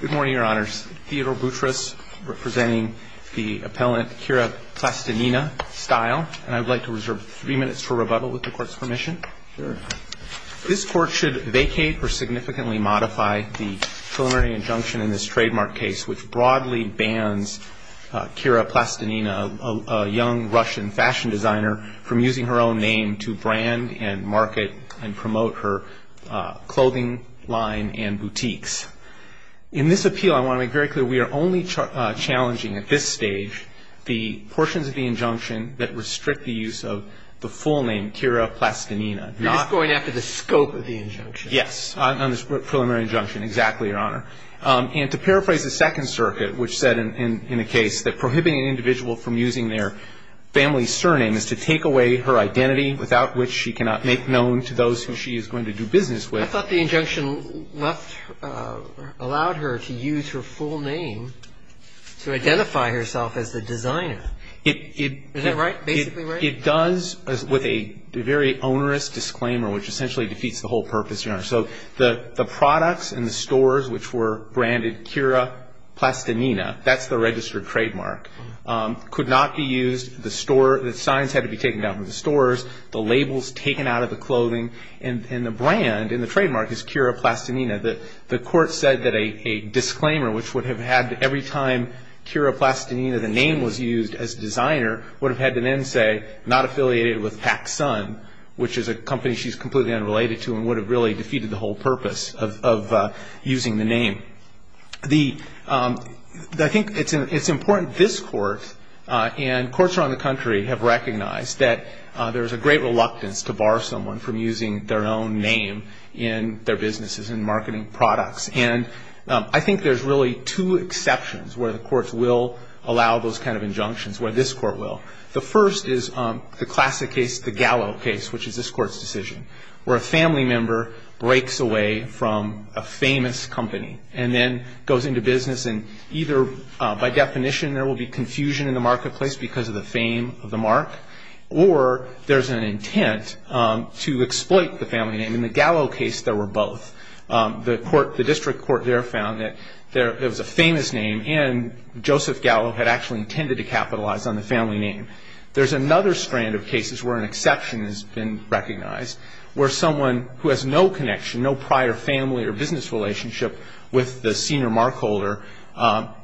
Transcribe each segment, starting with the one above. Good morning, your honors. Theodore Boutros, representing the appellant Kira Plastinina Style, and I'd like to reserve three minutes for rebuttal with the court's permission. Sure. This court should vacate or significantly modify the preliminary injunction in this trademark case, which broadly bans Kira Plastinina, a young Russian fashion designer, from using her own name to brand and market and promote her clothing line and boutiques. In this appeal, I want to make very clear we are only challenging at this stage the portions of the injunction that restrict the use of the full name, Kira Plastinina. You're just going after the scope of the injunction. Yes, on this preliminary injunction, exactly, your honor. And to paraphrase the Second Circuit, which said in the case that prohibiting an individual from using their family's surname is to take away her identity, without which she cannot make known to those who she is going to do business with. I thought the injunction left, allowed her to use her full name to identify herself as the designer. Is that right, basically right? It does, with a very onerous disclaimer, which essentially defeats the whole purpose, your honor. So the products and the stores which were branded Kira Plastinina, that's the registered trademark, could not be used, the signs had to be taken down from the stores, the labels taken out of the clothing, and the brand and the trademark is Kira Plastinina. The court said that a disclaimer, which would have had, every time Kira Plastinina, the name was used as designer, would have had an end say, not affiliated with PacSun, which is a company she's completely unrelated to and would have really defeated the whole purpose of using the name. I think it's important this Court and courts around the country have recognized that there's a great reluctance to bar someone from using their own name in their businesses and marketing products. And I think there's really two exceptions where the courts will allow those kind of injunctions, where this Court will. The first is the classic case, the Gallo case, which is this Court's decision, where a family member breaks away from a famous company and then goes into business and either by definition there will be confusion in the marketplace because of the fame of the mark, or there's an intent to exploit the family name. In the Gallo case, there were both. The District Court there found that there was a famous name and Joseph Gallo had actually intended to capitalize on the family name. There's another strand of cases where an exception has been recognized, where someone who has no connection, no prior family or business relationship with the senior mark holder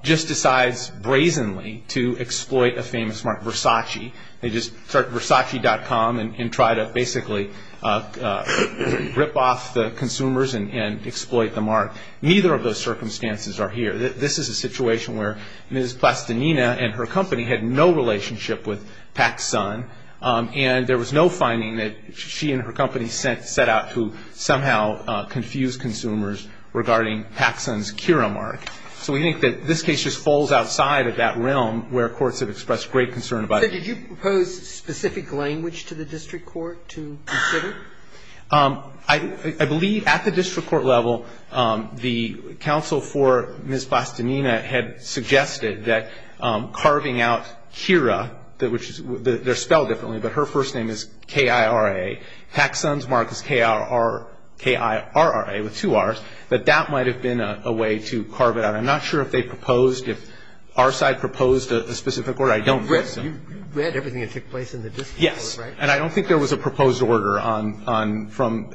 just decides brazenly to exploit a famous mark, Versace. They just start Versace.com and try to basically rip off the consumers and exploit the mark. Neither of those circumstances are here. This is a situation where Ms. Plastanina and her company had no relationship with PacSun, and there was no finding that she and her company set out to somehow confuse consumers regarding PacSun's Kira mark. So we think that this case just falls outside of that realm where courts have expressed great concern about it. So did you propose specific language to the District Court to consider? I believe at the District Court level, the counsel for Ms. Plastanina had suggested that carving out Kira, which is their spell differently, but her first name is K-I-R-A, PacSun's mark is K-I-R-R-A with two R's, that that might have been a way to carve it out. I'm not sure if they proposed, if our side proposed a specific order. I don't think so. You read everything that took place in the District Court, right? And I don't think there was a proposed order from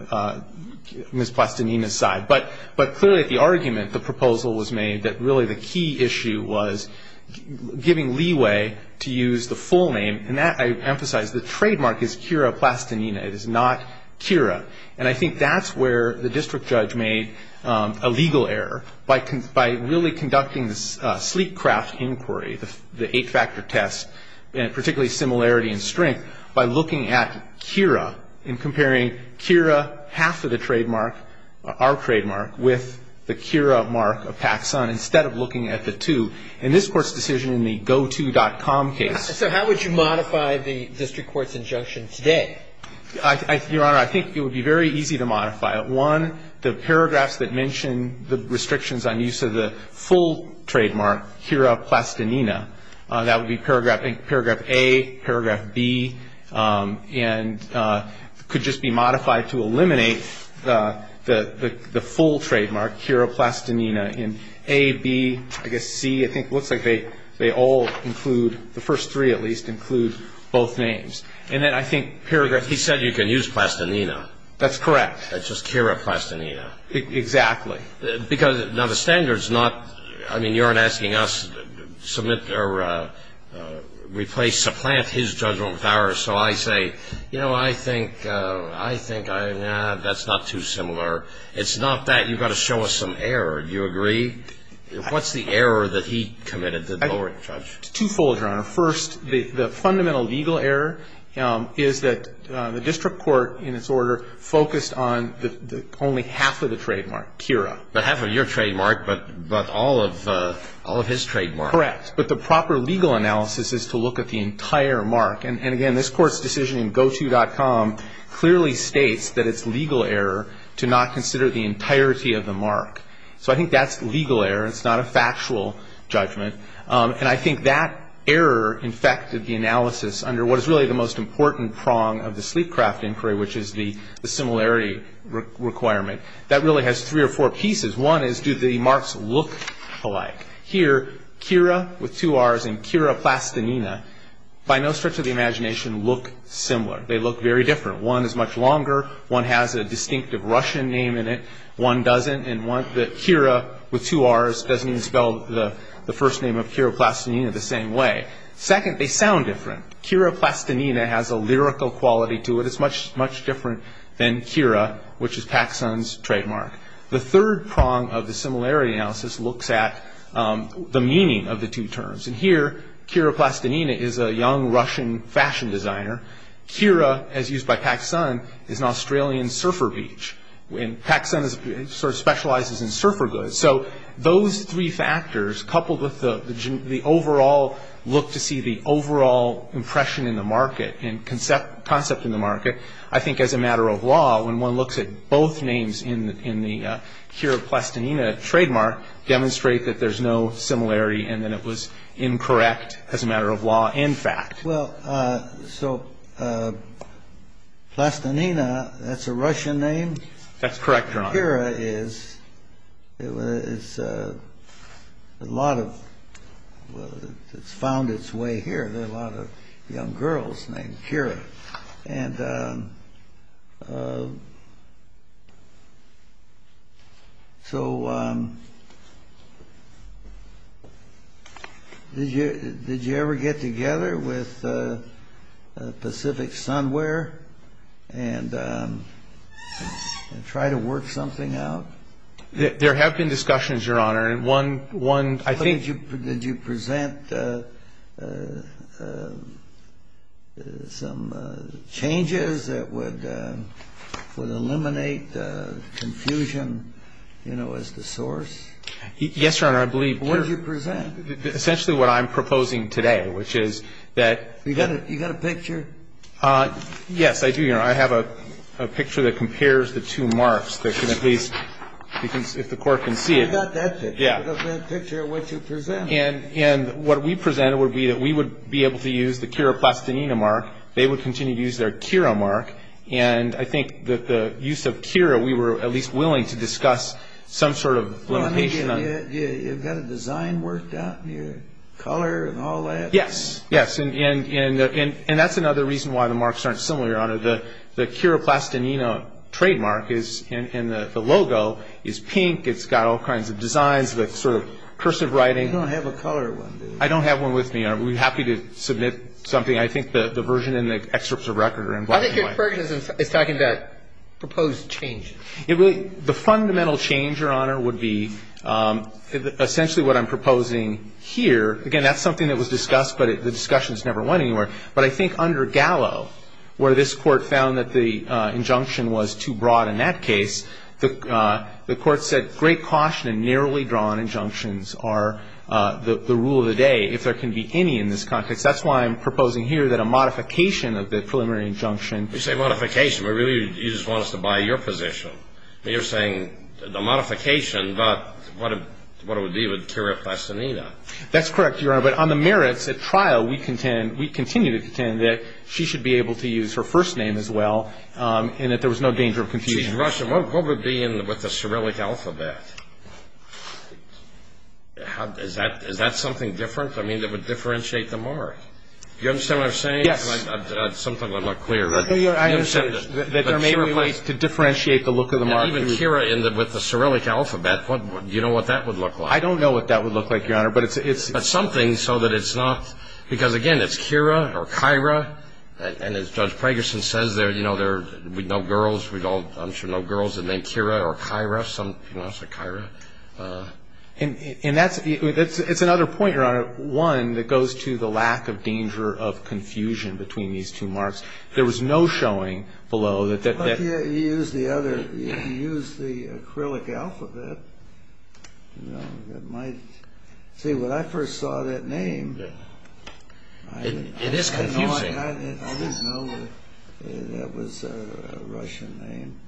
Ms. Plastanina's side. But clearly at the argument, the proposal was made that really the key issue was giving leeway to use the full name, and that I emphasize, the trademark is Kira Plastanina. It is not Kira. And I think that's where the district judge made a legal error. By really conducting this sleek craft inquiry, the eight-factor test, and particularly similarity in strength, by looking at Kira and comparing Kira, half of the trademark, our trademark, with the Kira mark of PacSun, instead of looking at the two. And this Court's decision in the goto.com case. So how would you modify the district court's injunction today? Your Honor, I think it would be very easy to modify it. One, the paragraphs that mention the restrictions on use of the full trademark, Kira Plastanina, that would be paragraph A, paragraph B, and could just be modified to eliminate the full trademark, Kira Plastanina, in A, B, I guess C. I think it looks like they all include, the first three at least, include both names. And then I think paragraph he said you can use Plastanina. That's correct. That's just Kira Plastanina. Exactly. Because, now, the standard's not, I mean, you aren't asking us to submit or replace, supplant his judgment with ours. So I say, you know, I think, I think that's not too similar. It's not that. You've got to show us some error. Do you agree? What's the error that he committed, the lower judge? It's twofold, Your Honor. First, the fundamental legal error is that the district court, in its order, focused on only half of the trademark, Kira. But half of your trademark, but all of his trademark. Correct. But the proper legal analysis is to look at the entire mark. And, again, this Court's decision in GoTo.com clearly states that it's legal error to not consider the entirety of the mark. So I think that's legal error. It's not a factual judgment. And I think that error infected the analysis under what is really the most important prong of the Sleepcraft inquiry, which is the similarity requirement. That really has three or four pieces. One is, do the marks look alike? Here, Kira with two R's and Kira Plastinina, by no stretch of the imagination, look similar. They look very different. One is much longer. One has a distinctive Russian name in it. One doesn't. And Kira with two R's doesn't spell the first name of Kira Plastinina the same way. Second, they sound different. Kira Plastinina has a lyrical quality to it. It's much, much different than Kira, which is PacSun's trademark. The third prong of the similarity analysis looks at the meaning of the two terms. And here, Kira Plastinina is a young Russian fashion designer. Kira, as used by PacSun, is an Australian surfer beach. And PacSun sort of specializes in surfer goods. So those three factors, coupled with the overall look to see the overall impression in the market and concept in the market, I think as a matter of law, when one looks at both names in the Kira Plastinina trademark, demonstrate that there's no similarity and that it was incorrect as a matter of law and fact. Well, so Plastinina, that's a Russian name? That's correct, Your Honor. Kira is, it's a lot of, it's found its way here. There are a lot of young girls named Kira. And so did you ever get together with Pacific Sunwear and try to work something out? There have been discussions, Your Honor. One, I think- Did you present some changes that would eliminate confusion, you know, as the source? Yes, Your Honor. I believe Kira- What did you present? Essentially what I'm proposing today, which is that- You got a picture? Yes, I do, Your Honor. I have a picture that compares the two marks that can at least, if the Court can see it- I got that picture. I got that picture of what you presented. And what we presented would be that we would be able to use the Kira Plastinina mark. They would continue to use their Kira mark. And I think that the use of Kira, we were at least willing to discuss some sort of limitation on- You've got a design worked out in your color and all that? Yes, yes. And that's another reason why the marks aren't similar, Your Honor. The Kira Plastinina trademark is, and the logo is pink. It's got all kinds of designs with sort of cursive writing. You don't have a color one, do you? I don't have one with me, Your Honor. I'd be happy to submit something. I think the version in the excerpts of record are in black and white. I think your version is talking about proposed changes. The fundamental change, Your Honor, would be essentially what I'm proposing here. Again, that's something that was discussed, but the discussion has never went anywhere. But I think under Gallo, where this Court found that the injunction was too broad in that case, the Court said great caution and narrowly drawn injunctions are the rule of the day, if there can be any in this context. That's why I'm proposing here that a modification of the preliminary injunction- You say modification, but really you just want us to buy your position. You're saying a modification, but what it would be with Kira Plastinina. That's correct, Your Honor. But on the merits at trial, we contend, we continue to contend that she should be able to use her first name as well and that there was no danger of confusion. Excuse me, Russian, what would be with the Cyrillic alphabet? Is that something different? I mean, that would differentiate the mark. Do you understand what I'm saying? Yes. Sometimes I'm not clear. I understand that there may be ways to differentiate the look of the mark. Even Kira with the Cyrillic alphabet, do you know what that would look like? I don't know what that would look like, Your Honor. But it's something so that it's not – because, again, it's Kira or Kyra. And as Judge Pragerson says there, you know, we know girls. We all, I'm sure, know girls that are named Kira or Kyra. You know, it's like Kyra. And that's – it's another point, Your Honor, one that goes to the lack of danger of confusion between these two marks. There was no showing below that- Well, you used the other – you used the Cyrillic alphabet. You know, it might – see, when I first saw that name- It is confusing. I didn't know that that was a Russian name.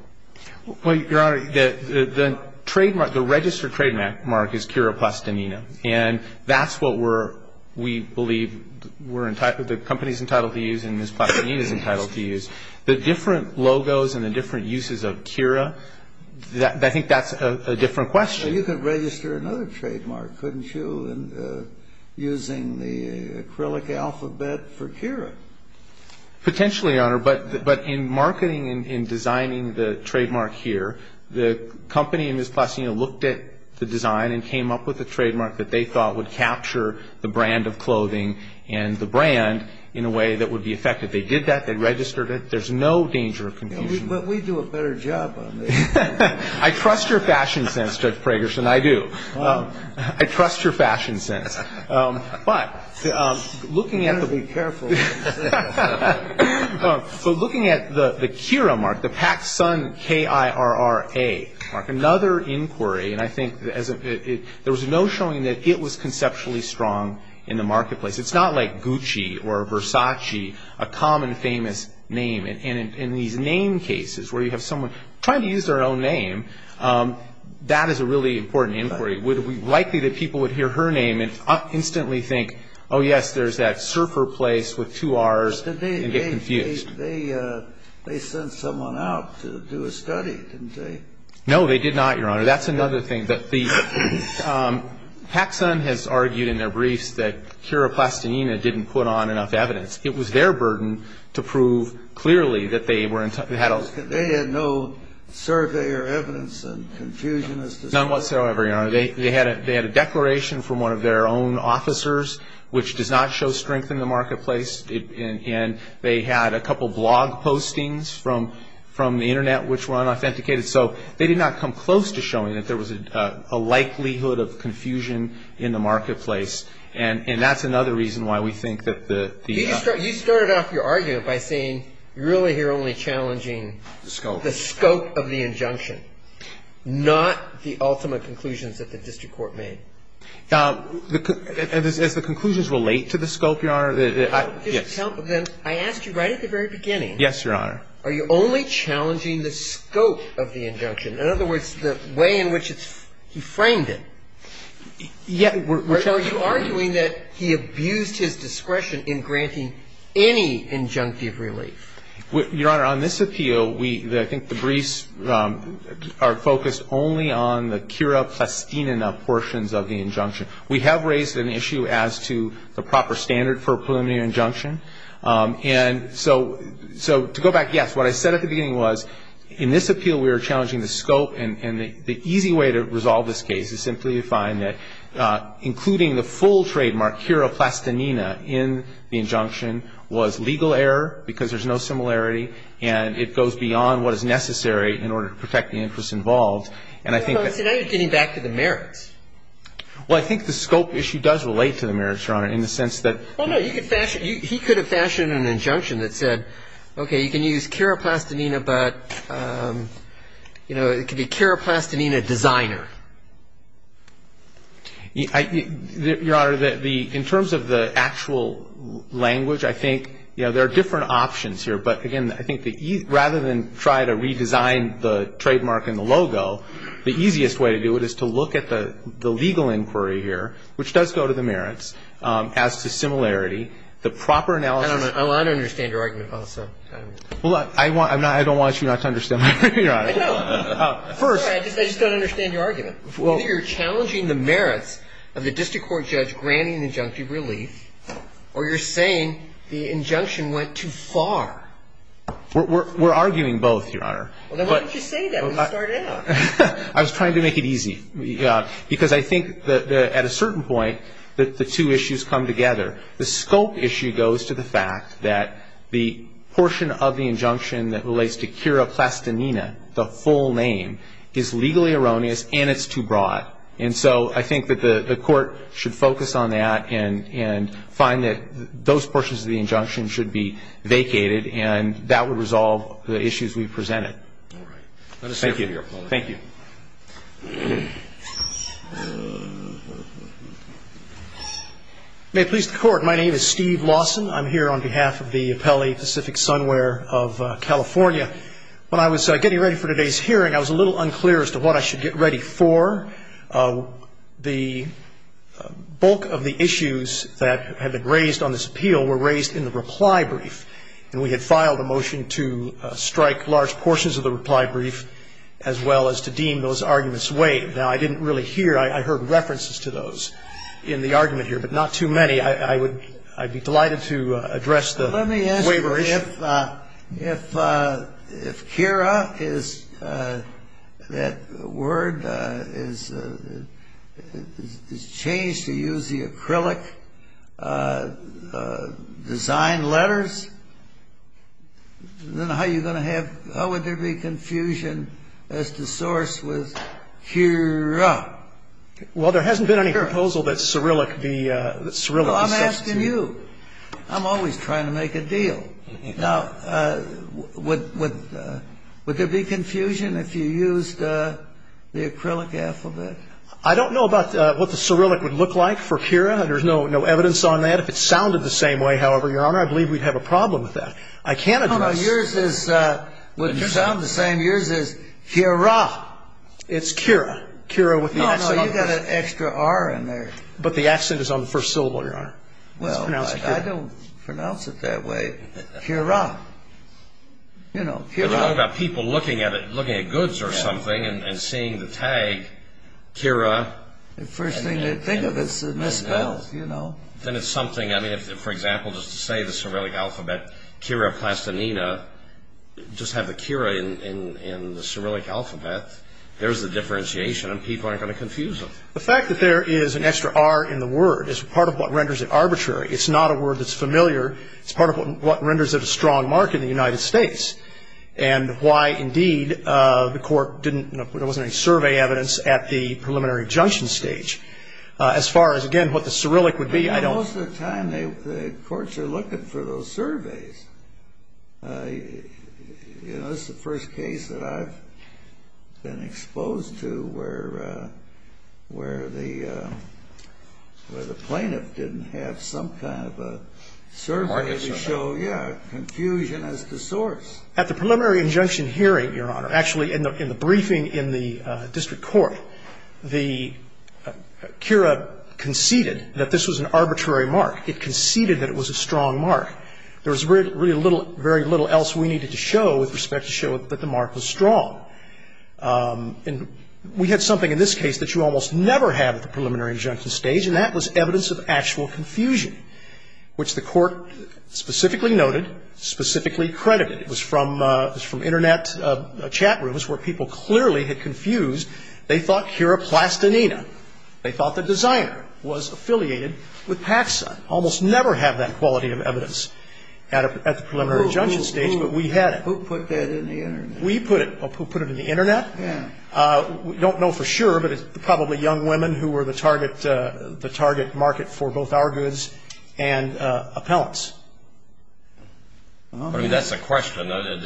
Well, Your Honor, the trademark – the registered trademark is Kira Plastanina. And that's what we're – we believe we're – the company's entitled to use and Ms. Plastanina's entitled to use. The different logos and the different uses of Kira, I think that's a different question. Well, you could register another trademark, couldn't you, using the Cyrillic alphabet for Kira? Potentially, Your Honor. But in marketing and designing the trademark here, the company and Ms. Plastanina looked at the design and came up with a trademark that they thought would capture the brand of clothing and the brand in a way that would be effective. They did that. They registered it. There's no danger of confusion. But we do a better job on this. I trust your fashion sense, Judge Pragerson. I do. I trust your fashion sense. But looking at the- You've got to be careful. So looking at the Kira mark, the Paxsun K-I-R-R-A mark, another inquiry, and I think there was no showing that it was conceptually strong in the marketplace. It's not like Gucci or Versace, a common famous name. And in these name cases where you have someone trying to use their own name, that is a really important inquiry. It would be likely that people would hear her name and instantly think, oh, yes, there's that surfer place with two R's and get confused. They sent someone out to do a study, didn't they? No, they did not, Your Honor. That's another thing. Paxsun has argued in their briefs that Kira Plastinina didn't put on enough evidence. It was their burden to prove clearly that they were- They had no survey or evidence and confusion as to- None whatsoever, Your Honor. They had a declaration from one of their own officers, which does not show strength in the marketplace. And they had a couple blog postings from the Internet which were unauthenticated. So they did not come close to showing that there was a likelihood of confusion in the marketplace. And that's another reason why we think that the- You started off your argument by saying you're really here only challenging- The scope. The scope of the injunction, not the ultimate conclusions that the district court made. As the conclusions relate to the scope, Your Honor- Then I asked you right at the very beginning- Yes, Your Honor. Are you only challenging the scope of the injunction? In other words, the way in which he framed it? Yes, which I- Or are you arguing that he abused his discretion in granting any injunctive relief? Your Honor, on this appeal, I think the briefs are focused only on the Kira Plastinina portions of the injunction. We have raised an issue as to the proper standard for a preliminary injunction. And so to go back, yes, what I said at the beginning was in this appeal we were challenging the scope and the easy way to resolve this case is simply to find that including the full trademark, Kira Plastinina, in the injunction was legal error because there's no similarity and it goes beyond what is necessary in order to protect the interests involved. And I think- So now you're getting back to the merits. Well, I think the scope issue does relate to the merits, Your Honor, in the sense that- Well, no, he could fashion an injunction that said, okay, you can use Kira Plastinina, but, you know, it could be Kira Plastinina, designer. Your Honor, in terms of the actual language, I think, you know, there are different options here. But, again, I think rather than try to redesign the trademark and the logo, the easiest way to do it is to look at the legal inquiry here, which does go to the merits, as to similarity, the proper analysis- I don't understand your argument, also. Well, I don't want you not to understand my argument, Your Honor. I don't. First- I just don't understand your argument. Either you're challenging the merits of the district court judge granting the injunctive relief or you're saying the injunction went too far. We're arguing both, Your Honor. Well, then why didn't you say that when you started out? I was trying to make it easy, because I think that at a certain point that the two issues come together. The scope issue goes to the fact that the portion of the injunction that relates to Kira Plastinina, the full name, is legally erroneous and it's too broad. And so I think that the court should focus on that and find that those portions of the injunction should be vacated, and that would resolve the issues we presented. All right. Thank you. Thank you. May it please the Court, my name is Steve Lawson. I'm here on behalf of the Appellee Pacific Sunwear of California. When I was getting ready for today's hearing, I was a little unclear as to what I should get ready for. The bulk of the issues that had been raised on this appeal were raised in the reply brief, and we had filed a motion to strike large portions of the reply brief as well as to deem those arguments waived. Now, I didn't really hear. I heard references to those in the argument here, but not too many. I would be delighted to address the waiver issue. If Kira is that word is changed to use the acrylic design letters, then how are you going to have – how would there be confusion as to source with Kira? Well, there hasn't been any proposal that Cyrillic be – that Cyrillic be substituted. I'm asking you. I'm always trying to make a deal. Now, would there be confusion if you used the acrylic alphabet? I don't know about what the Cyrillic would look like for Kira. There's no evidence on that. If it sounded the same way, however, Your Honor, I believe we'd have a problem with that. I can't address – No, no. Yours is – wouldn't sound the same. Yours is Kira. It's Kira. Kira with the accent on the – No, no. You've got an extra R in there. But the accent is on the first syllable, Your Honor. It's pronounced Kira. Well, I don't pronounce it that way. Kira. You know, Kira. What about people looking at goods or something and seeing the tag Kira? The first thing they think of is misspelled, you know. Then it's something – I mean, for example, just to say the Cyrillic alphabet, Kira plastinina, just have the Kira in the Cyrillic alphabet, there's a differentiation and people aren't going to confuse them. The fact that there is an extra R in the word is part of what renders it arbitrary. It's not a word that's familiar. It's part of what renders it a strong mark in the United States and why, indeed, the court didn't – there wasn't any survey evidence at the preliminary injunction stage. As far as, again, what the Cyrillic would be, I don't – Well, most of the time the courts are looking for those surveys. You know, this is the first case that I've been exposed to where the – where the plaintiff didn't have some kind of a survey to show, yeah, confusion as to source. At the preliminary injunction hearing, Your Honor, actually in the briefing in the district court, the – Kira conceded that this was an arbitrary mark. It conceded that it was a strong mark. There was really very little else we needed to show with respect to show that the mark was strong. And we had something in this case that you almost never have at the preliminary injunction stage, and that was evidence of actual confusion, which the court specifically noted, specifically credited. It was from Internet chat rooms where people clearly had confused. They thought Kira Plastanina. They thought the designer was affiliated with Paxson. Almost never have that quality of evidence at the preliminary injunction stage, but we had it. Who put that in the Internet? We put it. Who put it in the Internet? Yeah. Don't know for sure, but it's probably young women who were the target market for both our goods and appellants. I mean, that's the question. In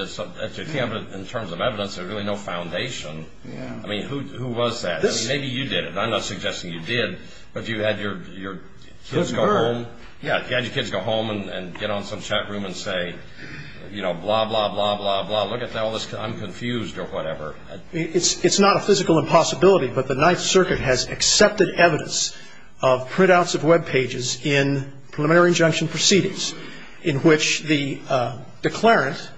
terms of evidence, there's really no foundation. Yeah. I mean, who was that? Maybe you did it. I'm not suggesting you did, but you had your kids go home and get on some chat room and say, you know, blah, blah, blah, blah, blah. Look at all this. I'm confused or whatever. It's not a physical impossibility, but the Ninth Circuit has accepted evidence of printouts of Web pages in preliminary injunction proceedings in which the declarant,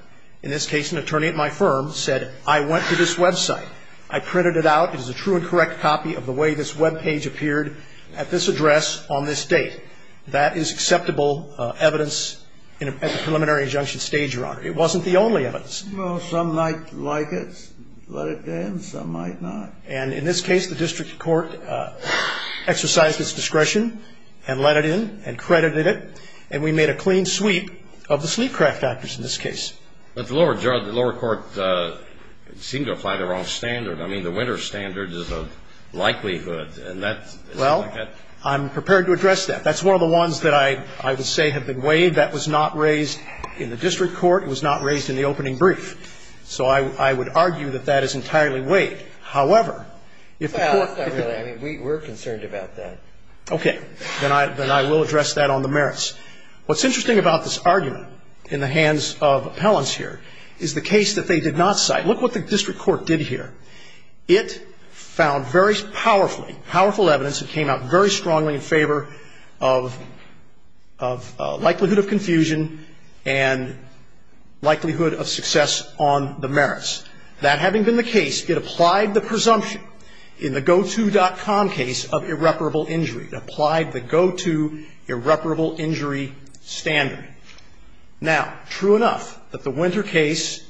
in this case an attorney at my firm, said, I went to this Web site. I printed it out. It is a true and correct copy of the way this Web page appeared at this address on this date. That is acceptable evidence at the preliminary injunction stage, Your Honor. It wasn't the only evidence. Well, some might like it. Let it in. Some might not. And in this case, the district court exercised its discretion and let it in and credited it, and we made a clean sweep of the sleepcraft actors in this case. But the lower court seemed to apply the wrong standard. I mean, the winner standard is a likelihood. And that's like that. Well, I'm prepared to address that. That's one of the ones that I would say have been waived. That was not raised in the district court. It was not raised in the opening brief. So I would argue that that is entirely waived. However, if the court. Well, I mean, we're concerned about that. Okay. Then I will address that on the merits. What's interesting about this argument in the hands of appellants here is the case that they did not cite. Look what the district court did here. It found very powerfully, powerful evidence that came out very strongly in favor of likelihood of confusion and likelihood of success on the merits. That having been the case, it applied the presumption in the GoTo.com case of irreparable injury. It applied the GoTo irreparable injury standard. Now, true enough that the Winter case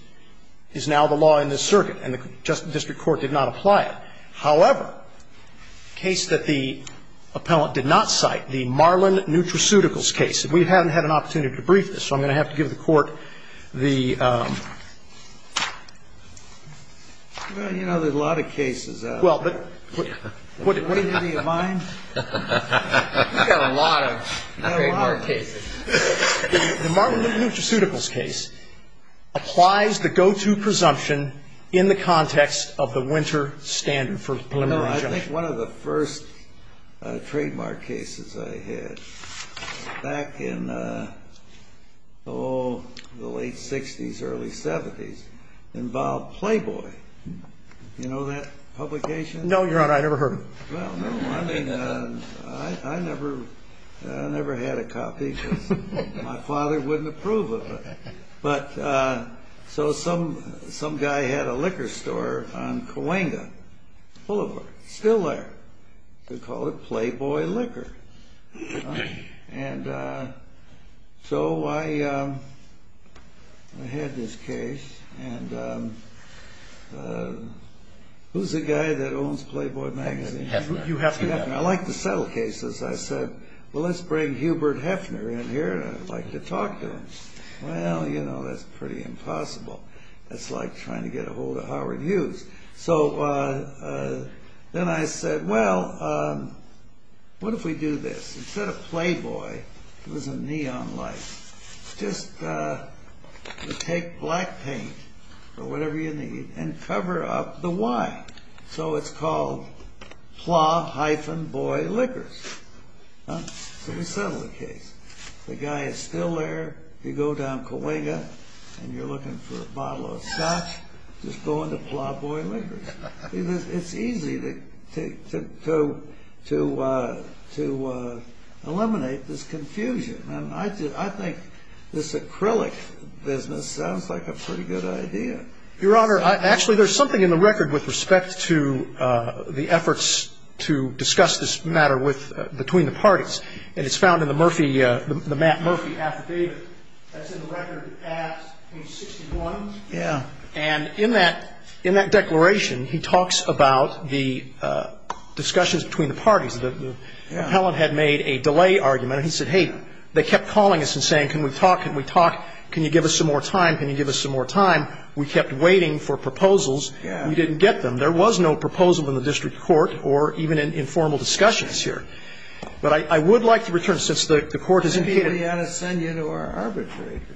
is now the law in this circuit, and the district court did not apply it. However, the case that the appellant did not cite, the Marlin Nutraceuticals case. We haven't had an opportunity to brief this, so I'm going to have to give the court the... Well, you know, there's a lot of cases out there. Well, but... What do you have in mind? We've got a lot of trademark cases. The Marlin Nutraceuticals case applies the GoTo presumption in the context of the Winter standard for preliminary judgment. I think one of the first trademark cases I had back in the late 60s, early 70s involved Playboy. Do you know that publication? No, Your Honor. I never heard of it. Well, no, I mean, I never had a copy because my father wouldn't approve of it. But, so some guy had a liquor store on Cahuenga Boulevard. It's still there. They call it Playboy Liquor. And so I had this case. And who's the guy that owns Playboy magazine? Hugh Hefner. Hugh Hefner. I like to settle cases. I said, well, let's bring Hubert Hefner in here and I'd like to talk to him. Well, you know, that's pretty impossible. That's like trying to get ahold of Howard Hughes. So then I said, well, what if we do this? Instead of Playboy, it was a neon light. Just take black paint or whatever you need and cover up the Y. So it's called Pla-Boy Liquors. So we settled the case. The guy is still there. You go down Cahuenga and you're looking for a bottle of scotch. Just go into Pla-Boy Liquors. It's easy to eliminate this confusion. And I think this acrylic business sounds like a pretty good idea. Your Honor, actually there's something in the record with respect to the efforts to discuss this matter between the parties. And it's found in the Matt Murphy affidavit. That's in the record at page 61. Yeah. And in that declaration, he talks about the discussions between the parties. The appellant had made a delay argument. He said, hey, they kept calling us and saying, can we talk, can we talk, can you give us some more time, can you give us some more time. We kept waiting for proposals. We didn't get them. There was no proposal in the district court or even in informal discussions here. But I would like to return, since the Court has indicated to you.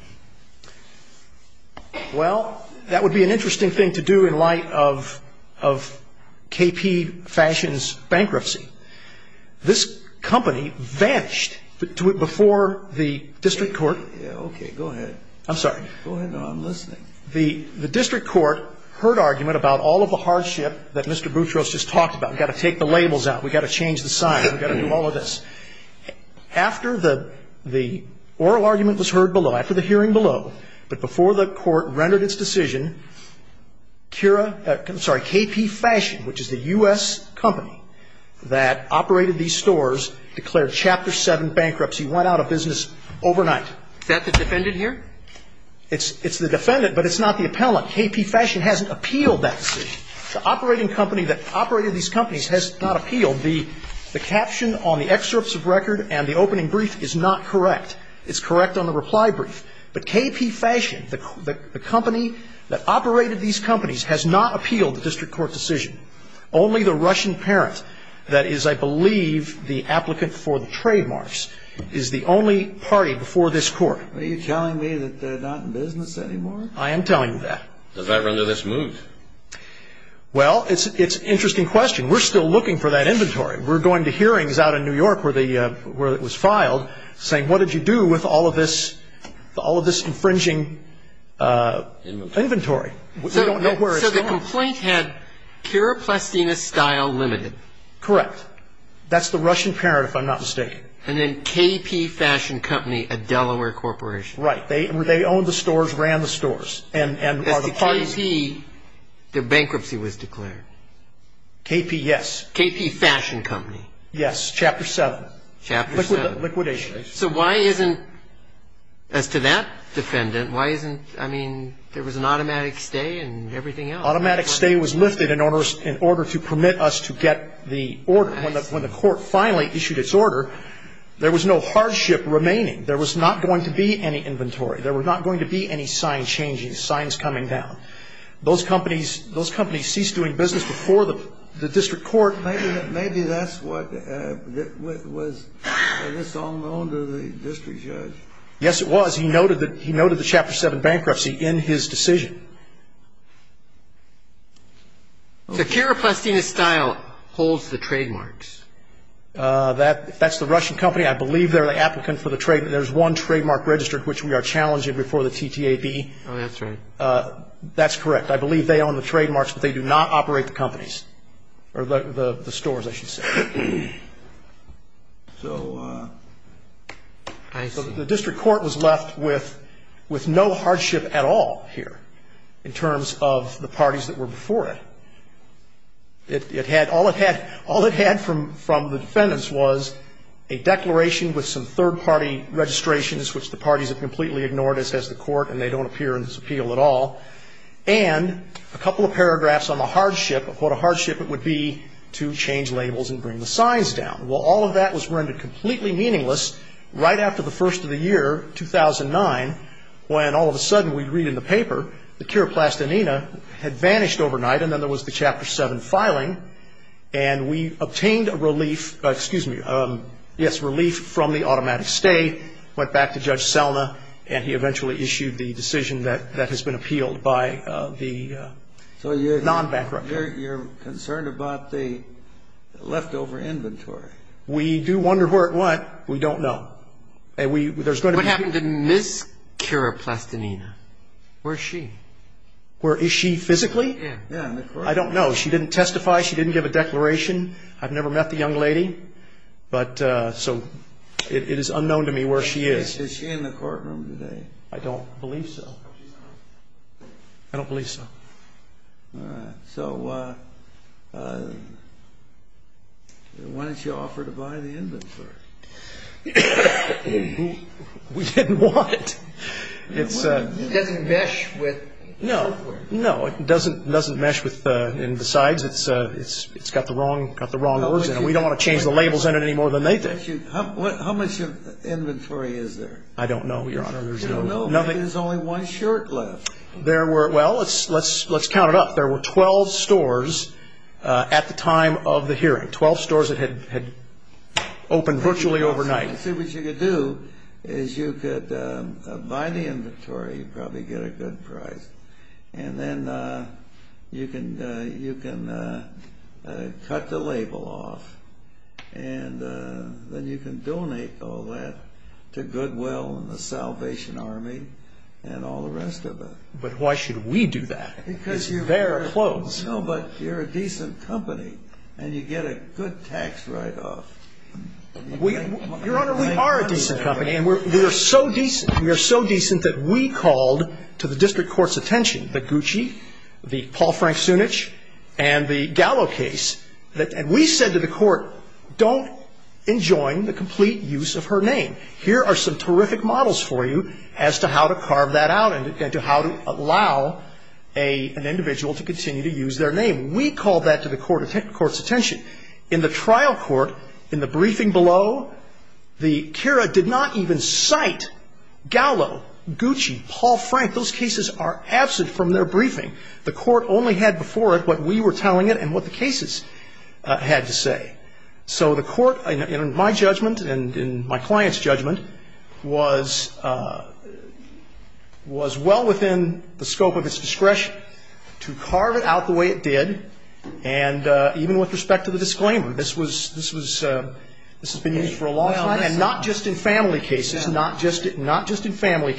Well, that would be an interesting thing to do in light of K.P. Fashion's bankruptcy. This company vanished before the district court. Okay, go ahead. I'm sorry. No, I'm listening. The district court heard argument about all of the hardship that Mr. Boutros just talked about. We've got to take the labels out. We've got to change the sign. We've got to do all of this. After the oral argument was heard below, after the hearing below, but before the court rendered its decision, K.P. Fashion, which is the U.S. company that operated these stores, declared Chapter 7 bankruptcy, went out of business overnight. Is that the defendant here? It's the defendant, but it's not the appellant. K.P. Fashion hasn't appealed that decision. The operating company that operated these companies has not appealed. The caption on the excerpts of record and the opening brief is not correct. It's correct on the reply brief, but K.P. Fashion, the company that operated these companies, has not appealed the district court decision. Only the Russian parent that is, I believe, the applicant for the trademarks is the only party before this court. Are you telling me that they're not in business anymore? I am telling you that. Does that render this moved? Well, it's an interesting question. We're still looking for that inventory. We're going to hearings out in New York where it was filed saying, what did you do with all of this infringing inventory? We don't know where it's going. So the complaint had Kira Plastina Style Limited. Correct. That's the Russian parent, if I'm not mistaken. And then K.P. Fashion Company, a Delaware corporation. Right. They owned the stores, ran the stores, and are the parties. Is the K.P. that bankruptcy was declared? K.P., yes. K.P. Fashion Company. Yes. Chapter 7. Chapter 7. Liquidation. So why isn't, as to that defendant, why isn't, I mean, there was an automatic stay and everything else. Automatic stay was lifted in order to permit us to get the order. When the court finally issued its order, there was no hardship remaining. There was not going to be any inventory. There was not going to be any sign changing, signs coming down. Those companies ceased doing business before the district court. Maybe that's what was, I guess, unknown to the district judge. Yes, it was. He noted the Chapter 7 bankruptcy in his decision. So Kira Plastina Style holds the trademarks. That's the Russian company. I believe they're the applicant for the trademark. There's one trademark registered which we are challenging before the TTAB. Oh, that's right. That's correct. I believe they own the trademarks, but they do not operate the companies, or the stores, I should say. So I see. The district court was left with no hardship at all here in terms of the parties that were before it. All it had from the defendants was a declaration with some third-party registrations, which the parties have completely ignored, as has the court, and they don't appear in this appeal at all, and a couple of paragraphs on the hardship, what a hardship it would be to change labels and bring the signs down. Well, all of that was rendered completely meaningless right after the first of the year, 2009, when all of a sudden we read in the paper that Kira Plastina had vanished overnight, and then there was the Chapter 7 filing, and we obtained a relief from the automatic stay, went back to Judge Selna, and he eventually issued the decision that has been appealed by the non-backer. So you're concerned about the leftover inventory. We do wonder where it went. We don't know. What happened to Ms. Kira Plastina? Where is she? Where is she physically? Yeah, in the courtroom. I don't know. She didn't testify. She didn't give a declaration. I've never met the young lady, so it is unknown to me where she is. Is she in the courtroom today? I don't believe so. I don't believe so. All right. So why didn't you offer to buy the inventory? We didn't want it. It doesn't mesh with the software. No, it doesn't mesh with, and besides, it's got the wrong words in it. We don't want to change the labels on it any more than they did. How much inventory is there? I don't know, Your Honor. There's only one shirt left. Well, let's count it up. There were 12 stores at the time of the hearing, 12 stores that had opened virtually overnight. See, what you could do is you could buy the inventory. You'd probably get a good price, and then you can cut the label off, and then you can donate all that to Goodwill and the Salvation Army and all the rest of it. But why should we do that? It's their clothes. No, but you're a decent company, and you get a good tax write-off. Your Honor, we are a decent company, and we are so decent that we called to the district court's attention the Gucci, the Paul Frank Sunich, and the Gallo case, and we said to the court, don't enjoin the complete use of her name. Here are some terrific models for you as to how to carve that out and to how to allow an individual to continue to use their name. We called that to the court's attention. In the trial court, in the briefing below, the Kira did not even cite Gallo, Gucci, Paul Frank. Those cases are absent from their briefing. The court only had before it what we were telling it and what the cases had to say. So the court, in my judgment and in my client's judgment, was well within the scope of its discretion to carve it out the way it did, and even with respect to the disclaimer, this has been used for a long time, and not just in family cases and not just in former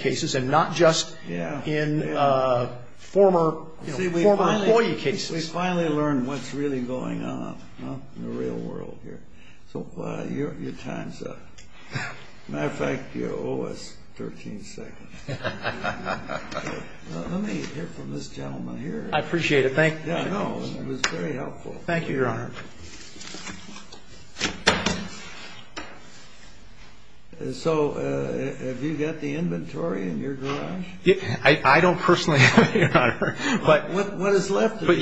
employee cases. We finally learned what's really going on in the real world here. So your time's up. As a matter of fact, you owe us 13 seconds. Let me hear from this gentleman here. I appreciate it. Thank you. It was very helpful. Thank you, Your Honor. So have you got the inventory in your garage? I don't personally have it, Your Honor. What is left of the inventory? But,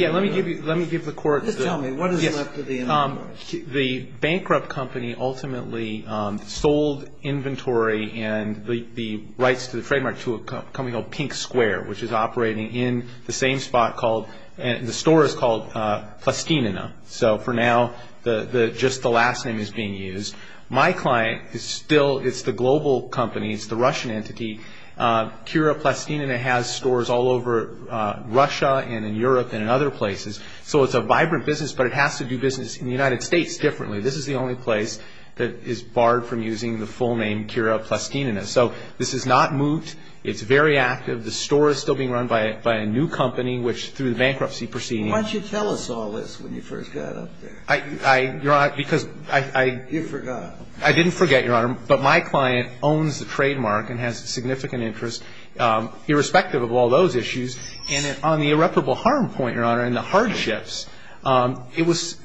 yeah, let me give the court. Just tell me, what is left of the inventory? The bankrupt company ultimately sold inventory and the rights to the trademark to a company called Pink Square, which is operating in the same spot called, and the store is called Plastinina. So for now, just the last name is being used. My client is still, it's the global company. It's the Russian entity. Kira Plastinina has stores all over Russia and in Europe and in other places. So it's a vibrant business, but it has to do business in the United States differently. This is the only place that is barred from using the full name Kira Plastinina. So this is not moot. It's very active. The store is still being run by a new company, which through the bankruptcy proceeding. Why didn't you tell us all this when you first got up there? I, Your Honor, because I. You forgot. I didn't forget, Your Honor. But my client owns the trademark and has significant interest, irrespective of all those issues. And on the irreparable harm point, Your Honor, and the hardships, it was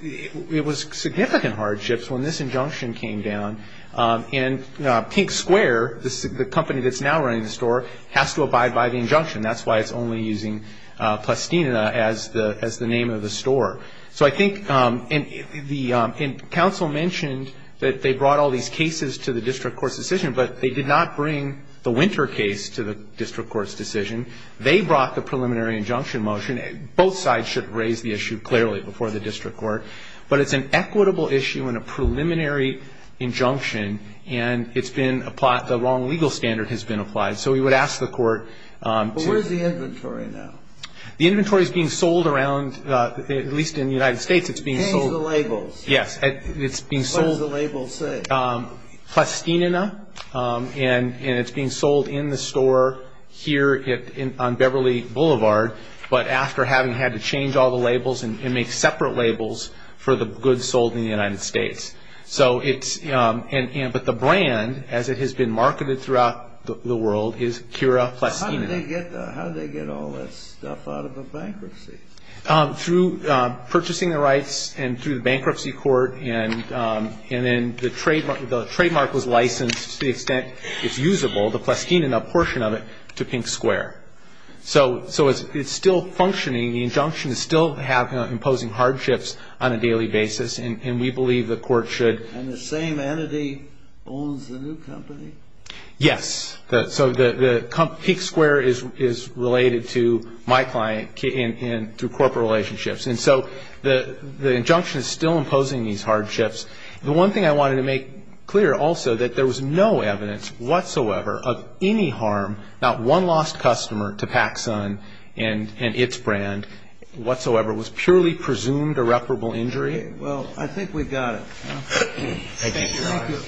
significant hardships when this injunction came down. And Pink Square, the company that's now running the store, has to abide by the injunction. That's why it's only using Plastinina as the name of the store. So I think the counsel mentioned that they brought all these cases to the district court's decision, but they did not bring the Winter case to the district court's decision. They brought the preliminary injunction motion. Both sides should have raised the issue clearly before the district court. But it's an equitable issue and a preliminary injunction. And it's been applied. The wrong legal standard has been applied. So we would ask the court to. But where's the inventory now? The inventory is being sold around, at least in the United States, it's being sold. Change the labels. Yes. It's being sold. What does the label say? Plastinina. And it's being sold in the store here on Beverly Boulevard. But after having had to change all the labels and make separate labels for the goods sold in the United States. But the brand, as it has been marketed throughout the world, is Cura Plastinina. How did they get all that stuff out of the bankruptcy? Through purchasing the rights and through the bankruptcy court. And then the trademark was licensed to the extent it's usable, the Plastinina portion of it, to Pink Square. So it's still functioning. The injunction is still imposing hardships on a daily basis. And we believe the court should. And the same entity owns the new company? Yes. So Pink Square is related to my client through corporate relationships. And so the injunction is still imposing these hardships. The one thing I wanted to make clear also that there was no evidence whatsoever of any harm, not one lost customer to PacSun and its brand whatsoever. It was purely presumed irreparable injury. Well, I think we've got it. Thank you.